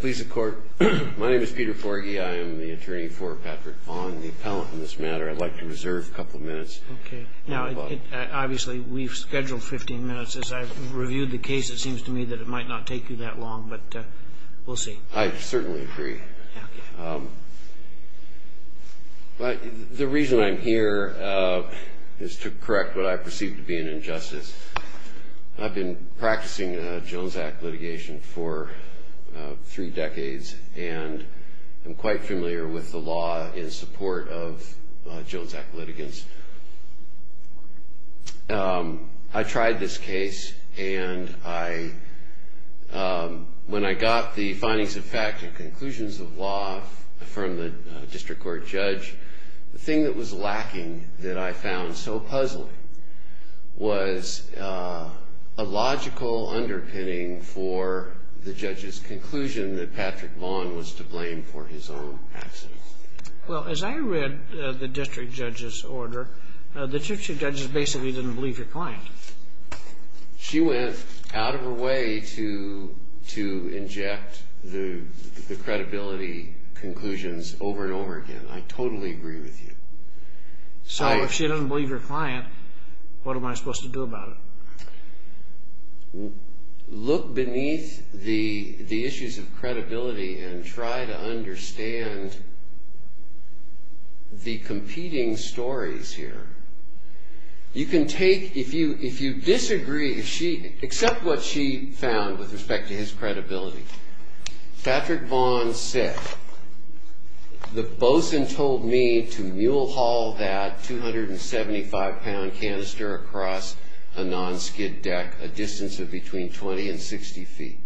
Please the court. My name is Peter Forgey. I am the attorney for Patrick Vaughn the appellant in this matter I'd like to reserve a couple of minutes. Okay. Now Obviously, we've scheduled 15 minutes as I've reviewed the case. It seems to me that it might not take you that long But we'll see I certainly agree But the reason I'm here Is to correct what I perceive to be an injustice I've been practicing Jones Act litigation for Three decades and I'm quite familiar with the law in support of Jones Act litigants I tried this case and I When I got the findings of fact and conclusions of law From the district court judge the thing that was lacking that I found so puzzling was a Conclusion that Patrick Vaughn was to blame for his own accident Well as I read the district judge's order the two judges basically didn't believe your client She went out of her way to to inject the Credibility conclusions over and over again. I totally agree with you So if she doesn't believe your client, what am I supposed to do about it? Look beneath the the issues of credibility and try to understand The competing stories here You can take if you if you disagree if she except what she found with respect to his credibility Patrick Vaughn said The bosun told me to mule haul that 275 pound canister across a non-skid deck a distance of between 20 and 60 feet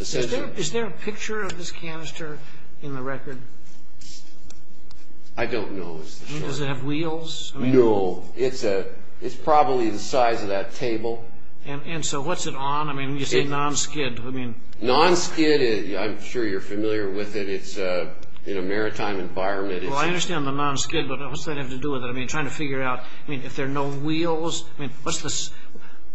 Is there a picture of this canister in the record? I? Don't know Does it have wheels? No, it's a it's probably the size of that table and and so what's it on? I mean you say non-skid. I mean non-skid is I'm sure you're familiar with it. It's in a maritime environment Well, I understand the non-skid, but what's that have to do with it? I mean trying to figure out I mean if there are no wheels, I mean, what's this?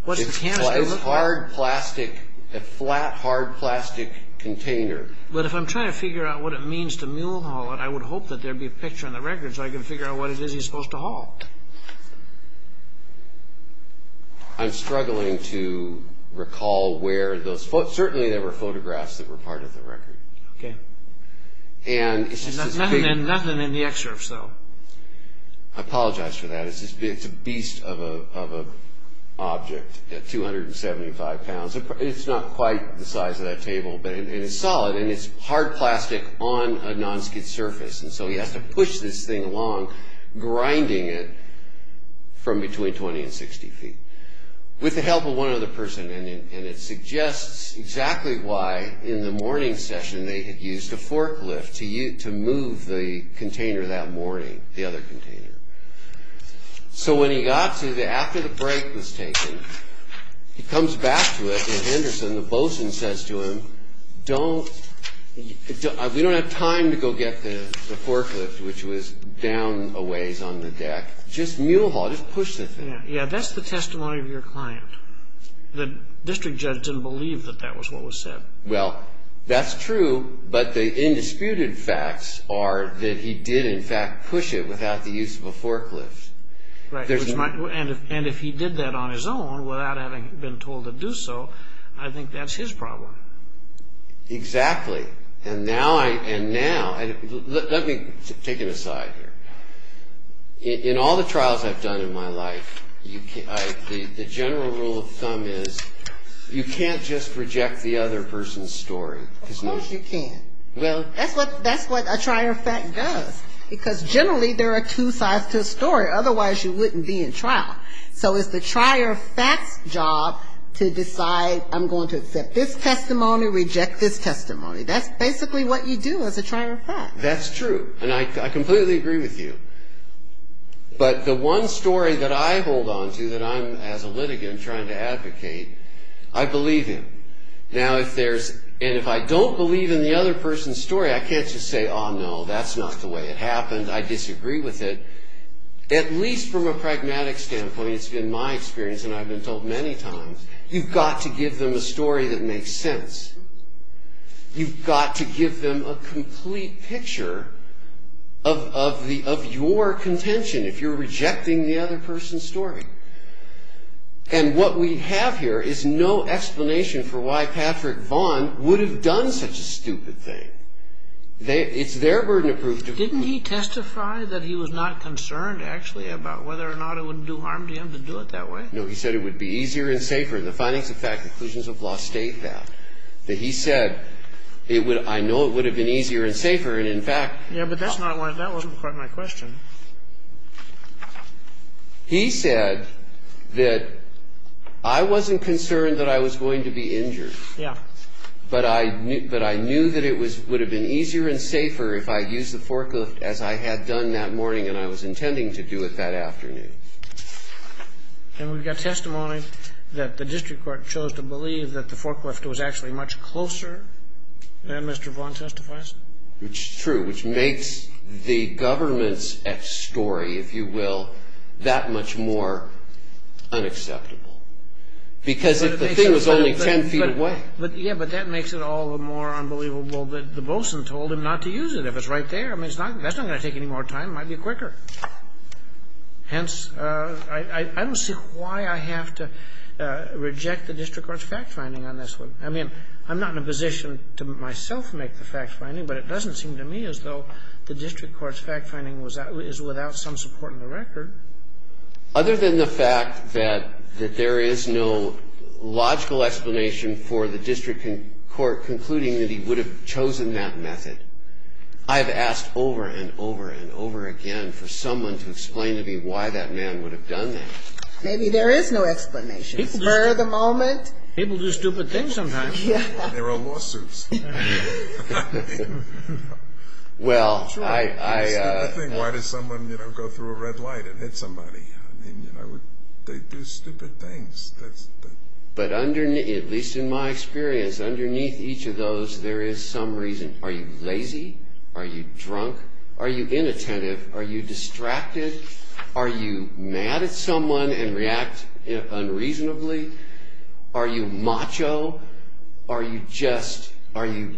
What's the canister hard plastic a flat hard plastic container? But if I'm trying to figure out what it means to mule haul it I would hope that there'd be a picture on the record so I can figure out what it is. He's supposed to haul I'm struggling to Recall where those foot certainly there were photographs that were part of the record, okay? And it's just nothing and nothing in the excerpt so I Apologize for that. It's just it's a beast of a object at 275 pounds it's not quite the size of that table But it's solid and it's hard plastic on a non-skid surface, and so he has to push this thing along grinding it from between 20 and 60 feet With the help of one other person and it suggests exactly why in the morning session They had used a forklift to you to move the container that morning the other container So when he got to the after the break was taken He comes back to it in Henderson the bosun says to him don't We don't have time to go get the forklift which was down a ways on the deck just mule haul just push the thing Yeah, that's the testimony of your client The district judge didn't believe that that was what was said well, that's true But the indisputed facts are that he did in fact push it without the use of a forklift There's Michael and if and if he did that on his own without having been told to do so I think that's his problem Exactly and now I and now let me take it aside here In all the trials I've done in my life You can't the general rule of thumb is you can't just reject the other person's story Well, that's what that's what a trier fact does because generally there are two sides to a story Otherwise you wouldn't be in trial so it's the trier facts job to decide I'm going to accept this testimony reject this testimony. That's basically what you do as a trier fact That's true, and I completely agree with you But the one story that I hold on to that I'm as a litigant trying to advocate I believe him Now if there's and if I don't believe in the other person's story, I can't just say oh, no That's not the way it happened. I disagree with it At least from a pragmatic standpoint. It's been my experience, and I've been told many times You've got to give them a story that makes sense You've got to give them a complete picture of The of your contention if you're rejecting the other person's story And what we have here is no explanation for why Patrick Vaughn would have done such a stupid thing They it's their burden of proof didn't he testify that he was not concerned actually about whether or not it would do harm to him To do it that way no He said it would be easier and safer the findings of fact conclusions of law state that that he said It would I know it would have been easier and safer and in fact Yeah, but that's not what that wasn't quite my question He said that I Wasn't concerned that I was going to be injured yeah But I knew that I knew that it was would have been easier and safer if I use the forklift as I had done that Morning, and I was intending to do it that afternoon And we've got testimony that the district court chose to believe that the forklift was actually much closer And mr. Vaughn testifies, which is true, which makes the government's story if you will that much more unacceptable Because if the thing was only ten feet away But yeah, but that makes it all the more unbelievable that the bosun told him not to use it if it's right there I mean, it's not that's not gonna. Take any more time might be quicker hence, I Don't see why I have to I mean, I'm not in a position to myself make the fact finding But it doesn't seem to me as though the district courts fact-finding was that is without some support in the record Other than the fact that that there is no Logical explanation for the district in court concluding that he would have chosen that method I've asked over and over and over again for someone to explain to me why that man would have done that There is no explanation for the moment people do stupid things sometimes Well But underneath at least in my experience underneath each of those there is some reason are you lazy are you drunk? Are you inattentive? Are you distracted? Are you mad at someone and react? Unreasonably, are you macho? Are you just are you?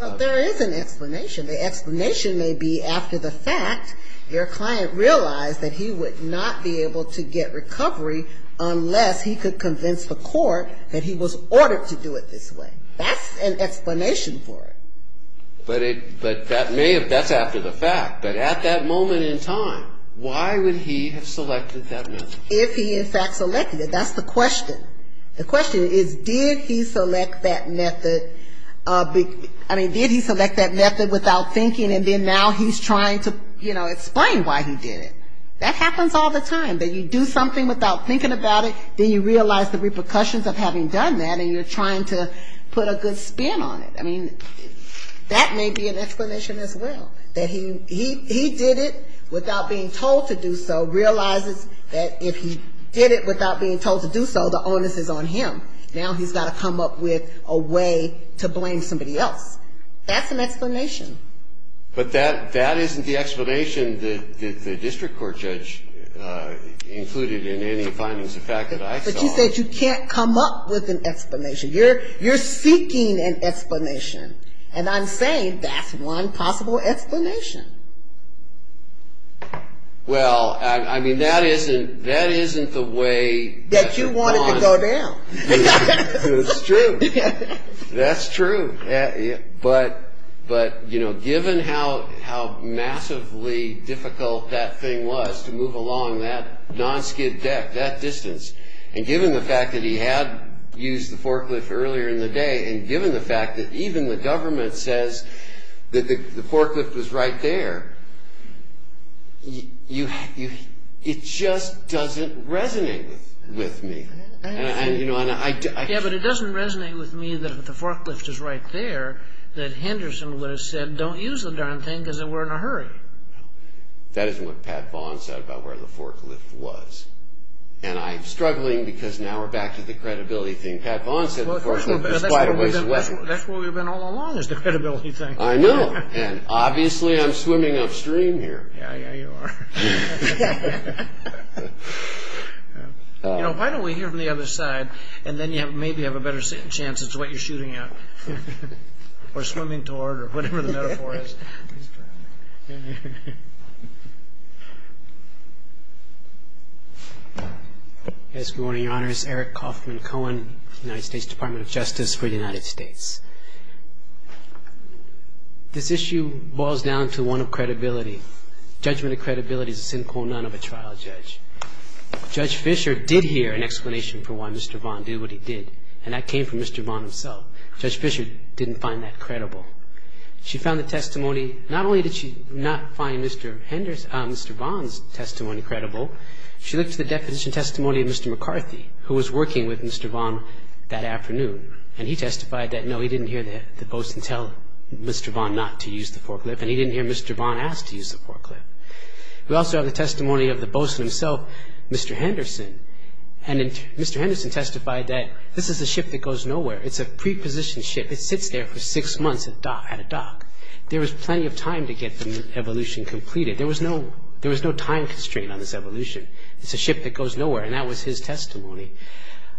There is an explanation the explanation may be after the fact your client realized that he would not be able to get recovery Unless he could convince the court that he was ordered to do it this way. That's an explanation for it But that may have that's after the fact but at that moment in time Why would he have selected that if he in fact selected it? That's the question The question is did he select that method? Big I mean did he select that method without thinking and then now he's trying to you know Explain why he did it that happens all the time that you do something without thinking about it Then you realize the repercussions of having done that and you're trying to put a good spin on it. I mean That may be an explanation as well that he he did it without being told to do so realizes that if he Did it without being told to do so the onus is on him now He's got to come up with a way to blame somebody else. That's an explanation But that that isn't the explanation that the district court judge Included in any findings the fact that I said you can't come up with an explanation. You're you're seeking an explanation And I'm saying that's one possible explanation Well, I mean that isn't that isn't the way that you wanted to go down That's true but but you know given how how Massively difficult that thing was to move along that non skid deck that distance and given the fact that he had Used the forklift earlier in the day and given the fact that even the government says that the forklift was right there You have you it just doesn't resonate with me and you know and I do yeah But it doesn't resonate with me that the forklift is right there that Henderson would have said don't use the darn thing because it were in a hurry that isn't what Pat Vaughn said about where the forklift was and Struggling because now we're back to the credibility thing Pat Vaughn said That's what we've been all along is the credibility thing. I know and obviously I'm swimming upstream here You know why don't we hear from the other side and then you have maybe have a better chance, it's what you're shooting at We're swimming toward or whatever the metaphor is It's morning honors Eric Kaufman Cohen United States Department of Justice for the United States This issue boils down to one of credibility judgment of credibility is a simple none of a trial judge Judge Fisher did hear an explanation for why mr. Vaughn do what he did and that came from mr. Vaughn himself judge Fisher didn't find that credible She found the testimony not only did she not find mr. Henderson mr. Vaughn's testimony credible She looked to the definition testimony of mr. McCarthy who was working with mr. Vaughn that afternoon and he testified that no he didn't hear That the boats and tell mr. Vaughn not to use the forklift and he didn't hear mr. Vaughn asked to use the forklift We also have the testimony of the boats and himself mr. Henderson and mr. Henderson testified that this is a ship that goes nowhere It's a preposition ship. It sits there for six months at dock at a dock There was plenty of time to get the evolution completed There was no there was no time constraint on this evolution. It's a ship that goes nowhere and that was his testimony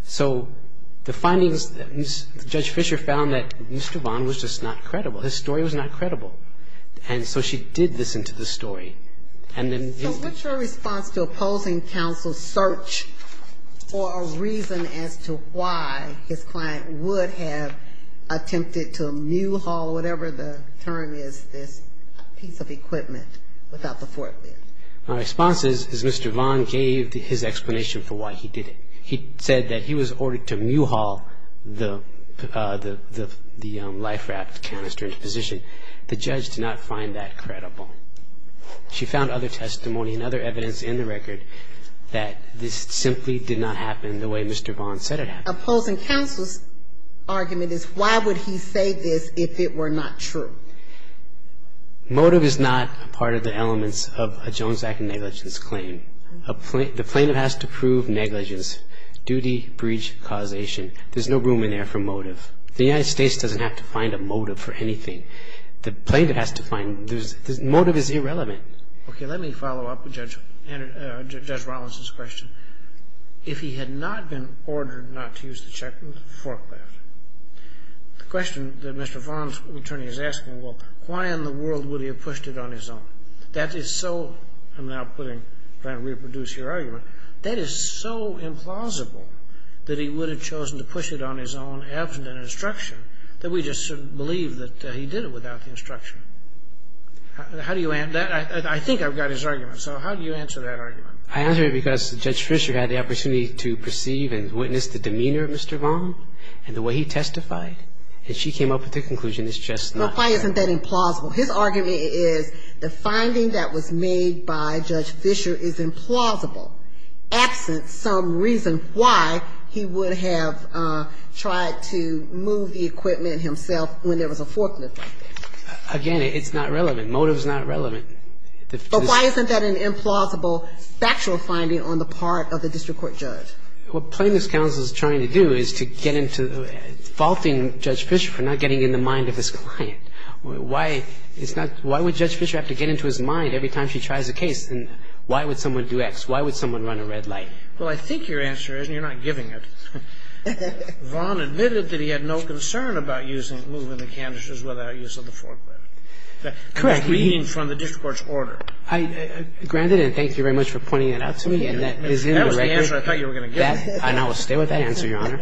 so the findings Judge Fisher found that mr. Vaughn was just not credible. His story was not credible And so she did this into the story and then what's your response to opposing counsel search? for a reason as to why his client would have Attempted to mule haul whatever the term is this piece of equipment without the forklift My response is is mr. Vaughn gave his explanation for why he did it. He said that he was ordered to mule haul the The the the life raft canister into position the judge did not find that credible She found other testimony and other evidence in the record that this simply did not happen the way mr. Vaughn said it opposing counsel's Argument is why would he say this if it were not true? Motive is not a part of the elements of a Jones act negligence claim a plate the plaintiff has to prove negligence Duty breach causation. There's no room in there for motive The United States doesn't have to find a motive for anything the plaintiff has to find there's motive is irrelevant Okay, let me follow up with judge Judge Rollins's question if he had not been ordered not to use the check with the forklift The question that mr. Vaughn's attorney is asking. Well, why in the world would he have pushed it on his own? That is so I'm now putting trying to reproduce your argument That is so implausible that he would have chosen to push it on his own Absent an instruction that we just believe that he did it without the instruction How do you and that I think I've got his argument. So how do you answer that argument? I answer because the judge Fisher had the opportunity to perceive and witness the demeanor of mr Vaughn and the way he testified And she came up with the conclusion is just not why isn't that implausible his argument is the finding that was made by judge Fisher is implausible Absent some reason why he would have Tried to move the equipment himself when there was a forklift Again, it's not relevant motives not relevant But why isn't that an implausible? Factual finding on the part of the district court judge what plaintiff's counsel is trying to do is to get into Faulting judge Fisher for not getting in the mind of this client Why it's not why would judge Fisher have to get into his mind every time she tries a case and why would someone do X? Why would someone run a red light? Well, I think your answer isn't you're not giving it Vaughn admitted that he had no concern about using moving the canisters without use of the forklift Correct reading from the district court's order. I Granted and thank you very much for pointing it out to me and that is I know stay with that answer your honor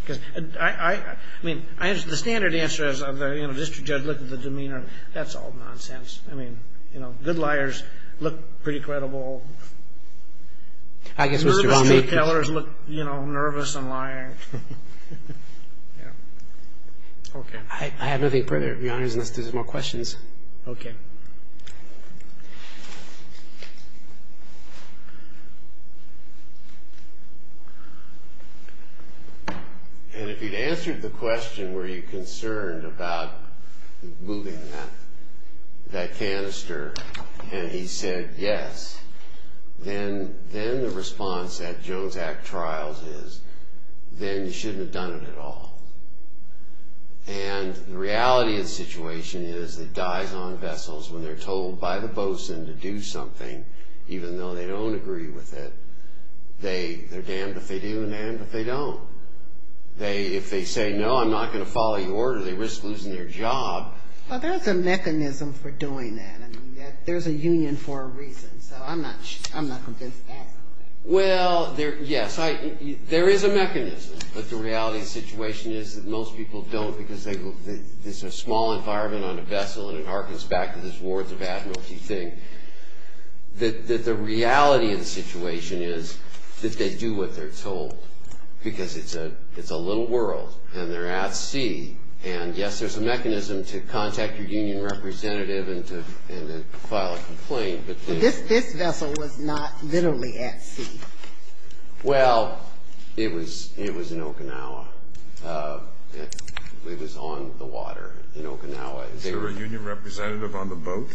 Because I I mean I as the standard answer is of the district judge look at the demeanor that's all nonsense I mean, you know good liars look pretty credible. I Yeah, okay, I have nothing further behind us there's more questions, okay And if he'd answered the question were you concerned about moving that That canister and he said yes Then then the response that Jones Act trials is Then you shouldn't have done it at all And the reality of the situation is it dies on vessels when they're told by the boats and to do something Even though they don't agree with it They they're damned if they do and then but they don't They if they say no, I'm not gonna follow your order. They risk losing their job. Well, there's a mechanism for doing that There's a union for a reason I'm not I'm not well there yes, I There is a mechanism but the reality situation is that most people don't because they It's a small environment on a vessel and it harkens back to this wards of Admiralty thing That the reality of the situation is that they do what they're told Because it's a it's a little world and they're at sea and yes There's a mechanism to contact your union representative and to file a complaint This this vessel was not literally at sea Well, it was it was in Okinawa It was on the water in Okinawa, they were union representative on the boat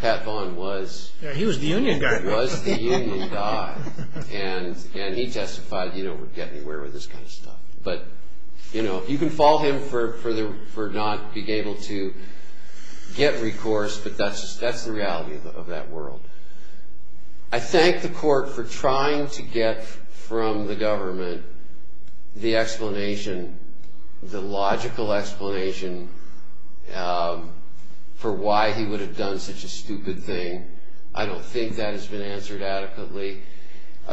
Pat Vaughn was he was the union guy was And and he testified, you know would get me where with this kind of stuff but you know, you can fall him for further for not being able to Get recourse, but that's that's the reality of that world. I Thank the court for trying to get from the government the explanation the logical explanation For why he would have done such a stupid thing. I don't think that has been answered adequately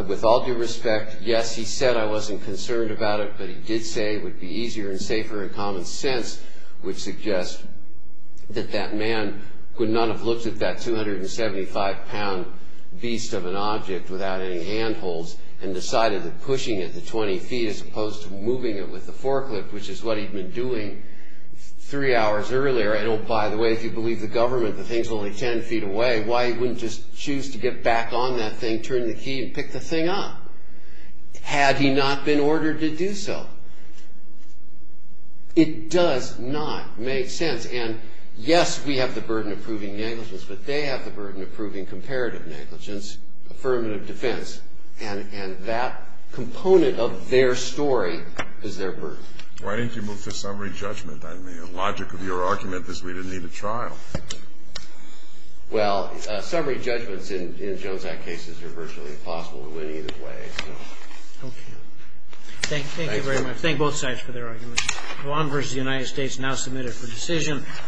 With all due respect. Yes. He said I wasn't concerned about it But he did say would be easier and safer and common sense would suggest That that man would not have looked at that 275 pound beast of an object without any handholds and Decided that pushing at the 20 feet as opposed to moving it with the forklift, which is what he'd been doing Three hours earlier. I don't by the way if you believe the government the things only 10 feet away Why he wouldn't just choose to get back on that thing turn the key and pick the thing up Had he not been ordered to do so It does not make sense and yes, we have the burden of proving negligence but they have the burden of proving comparative negligence affirmative defense and and that Component of their story is their birth. Why didn't you move to summary judgment? I mean a logic of your argument is we didn't need a trial Well summary judgments in Jones act cases are virtually impossible to win either way Okay, thank you very much thank both sides for their argument Columbus the United States now submitted for decision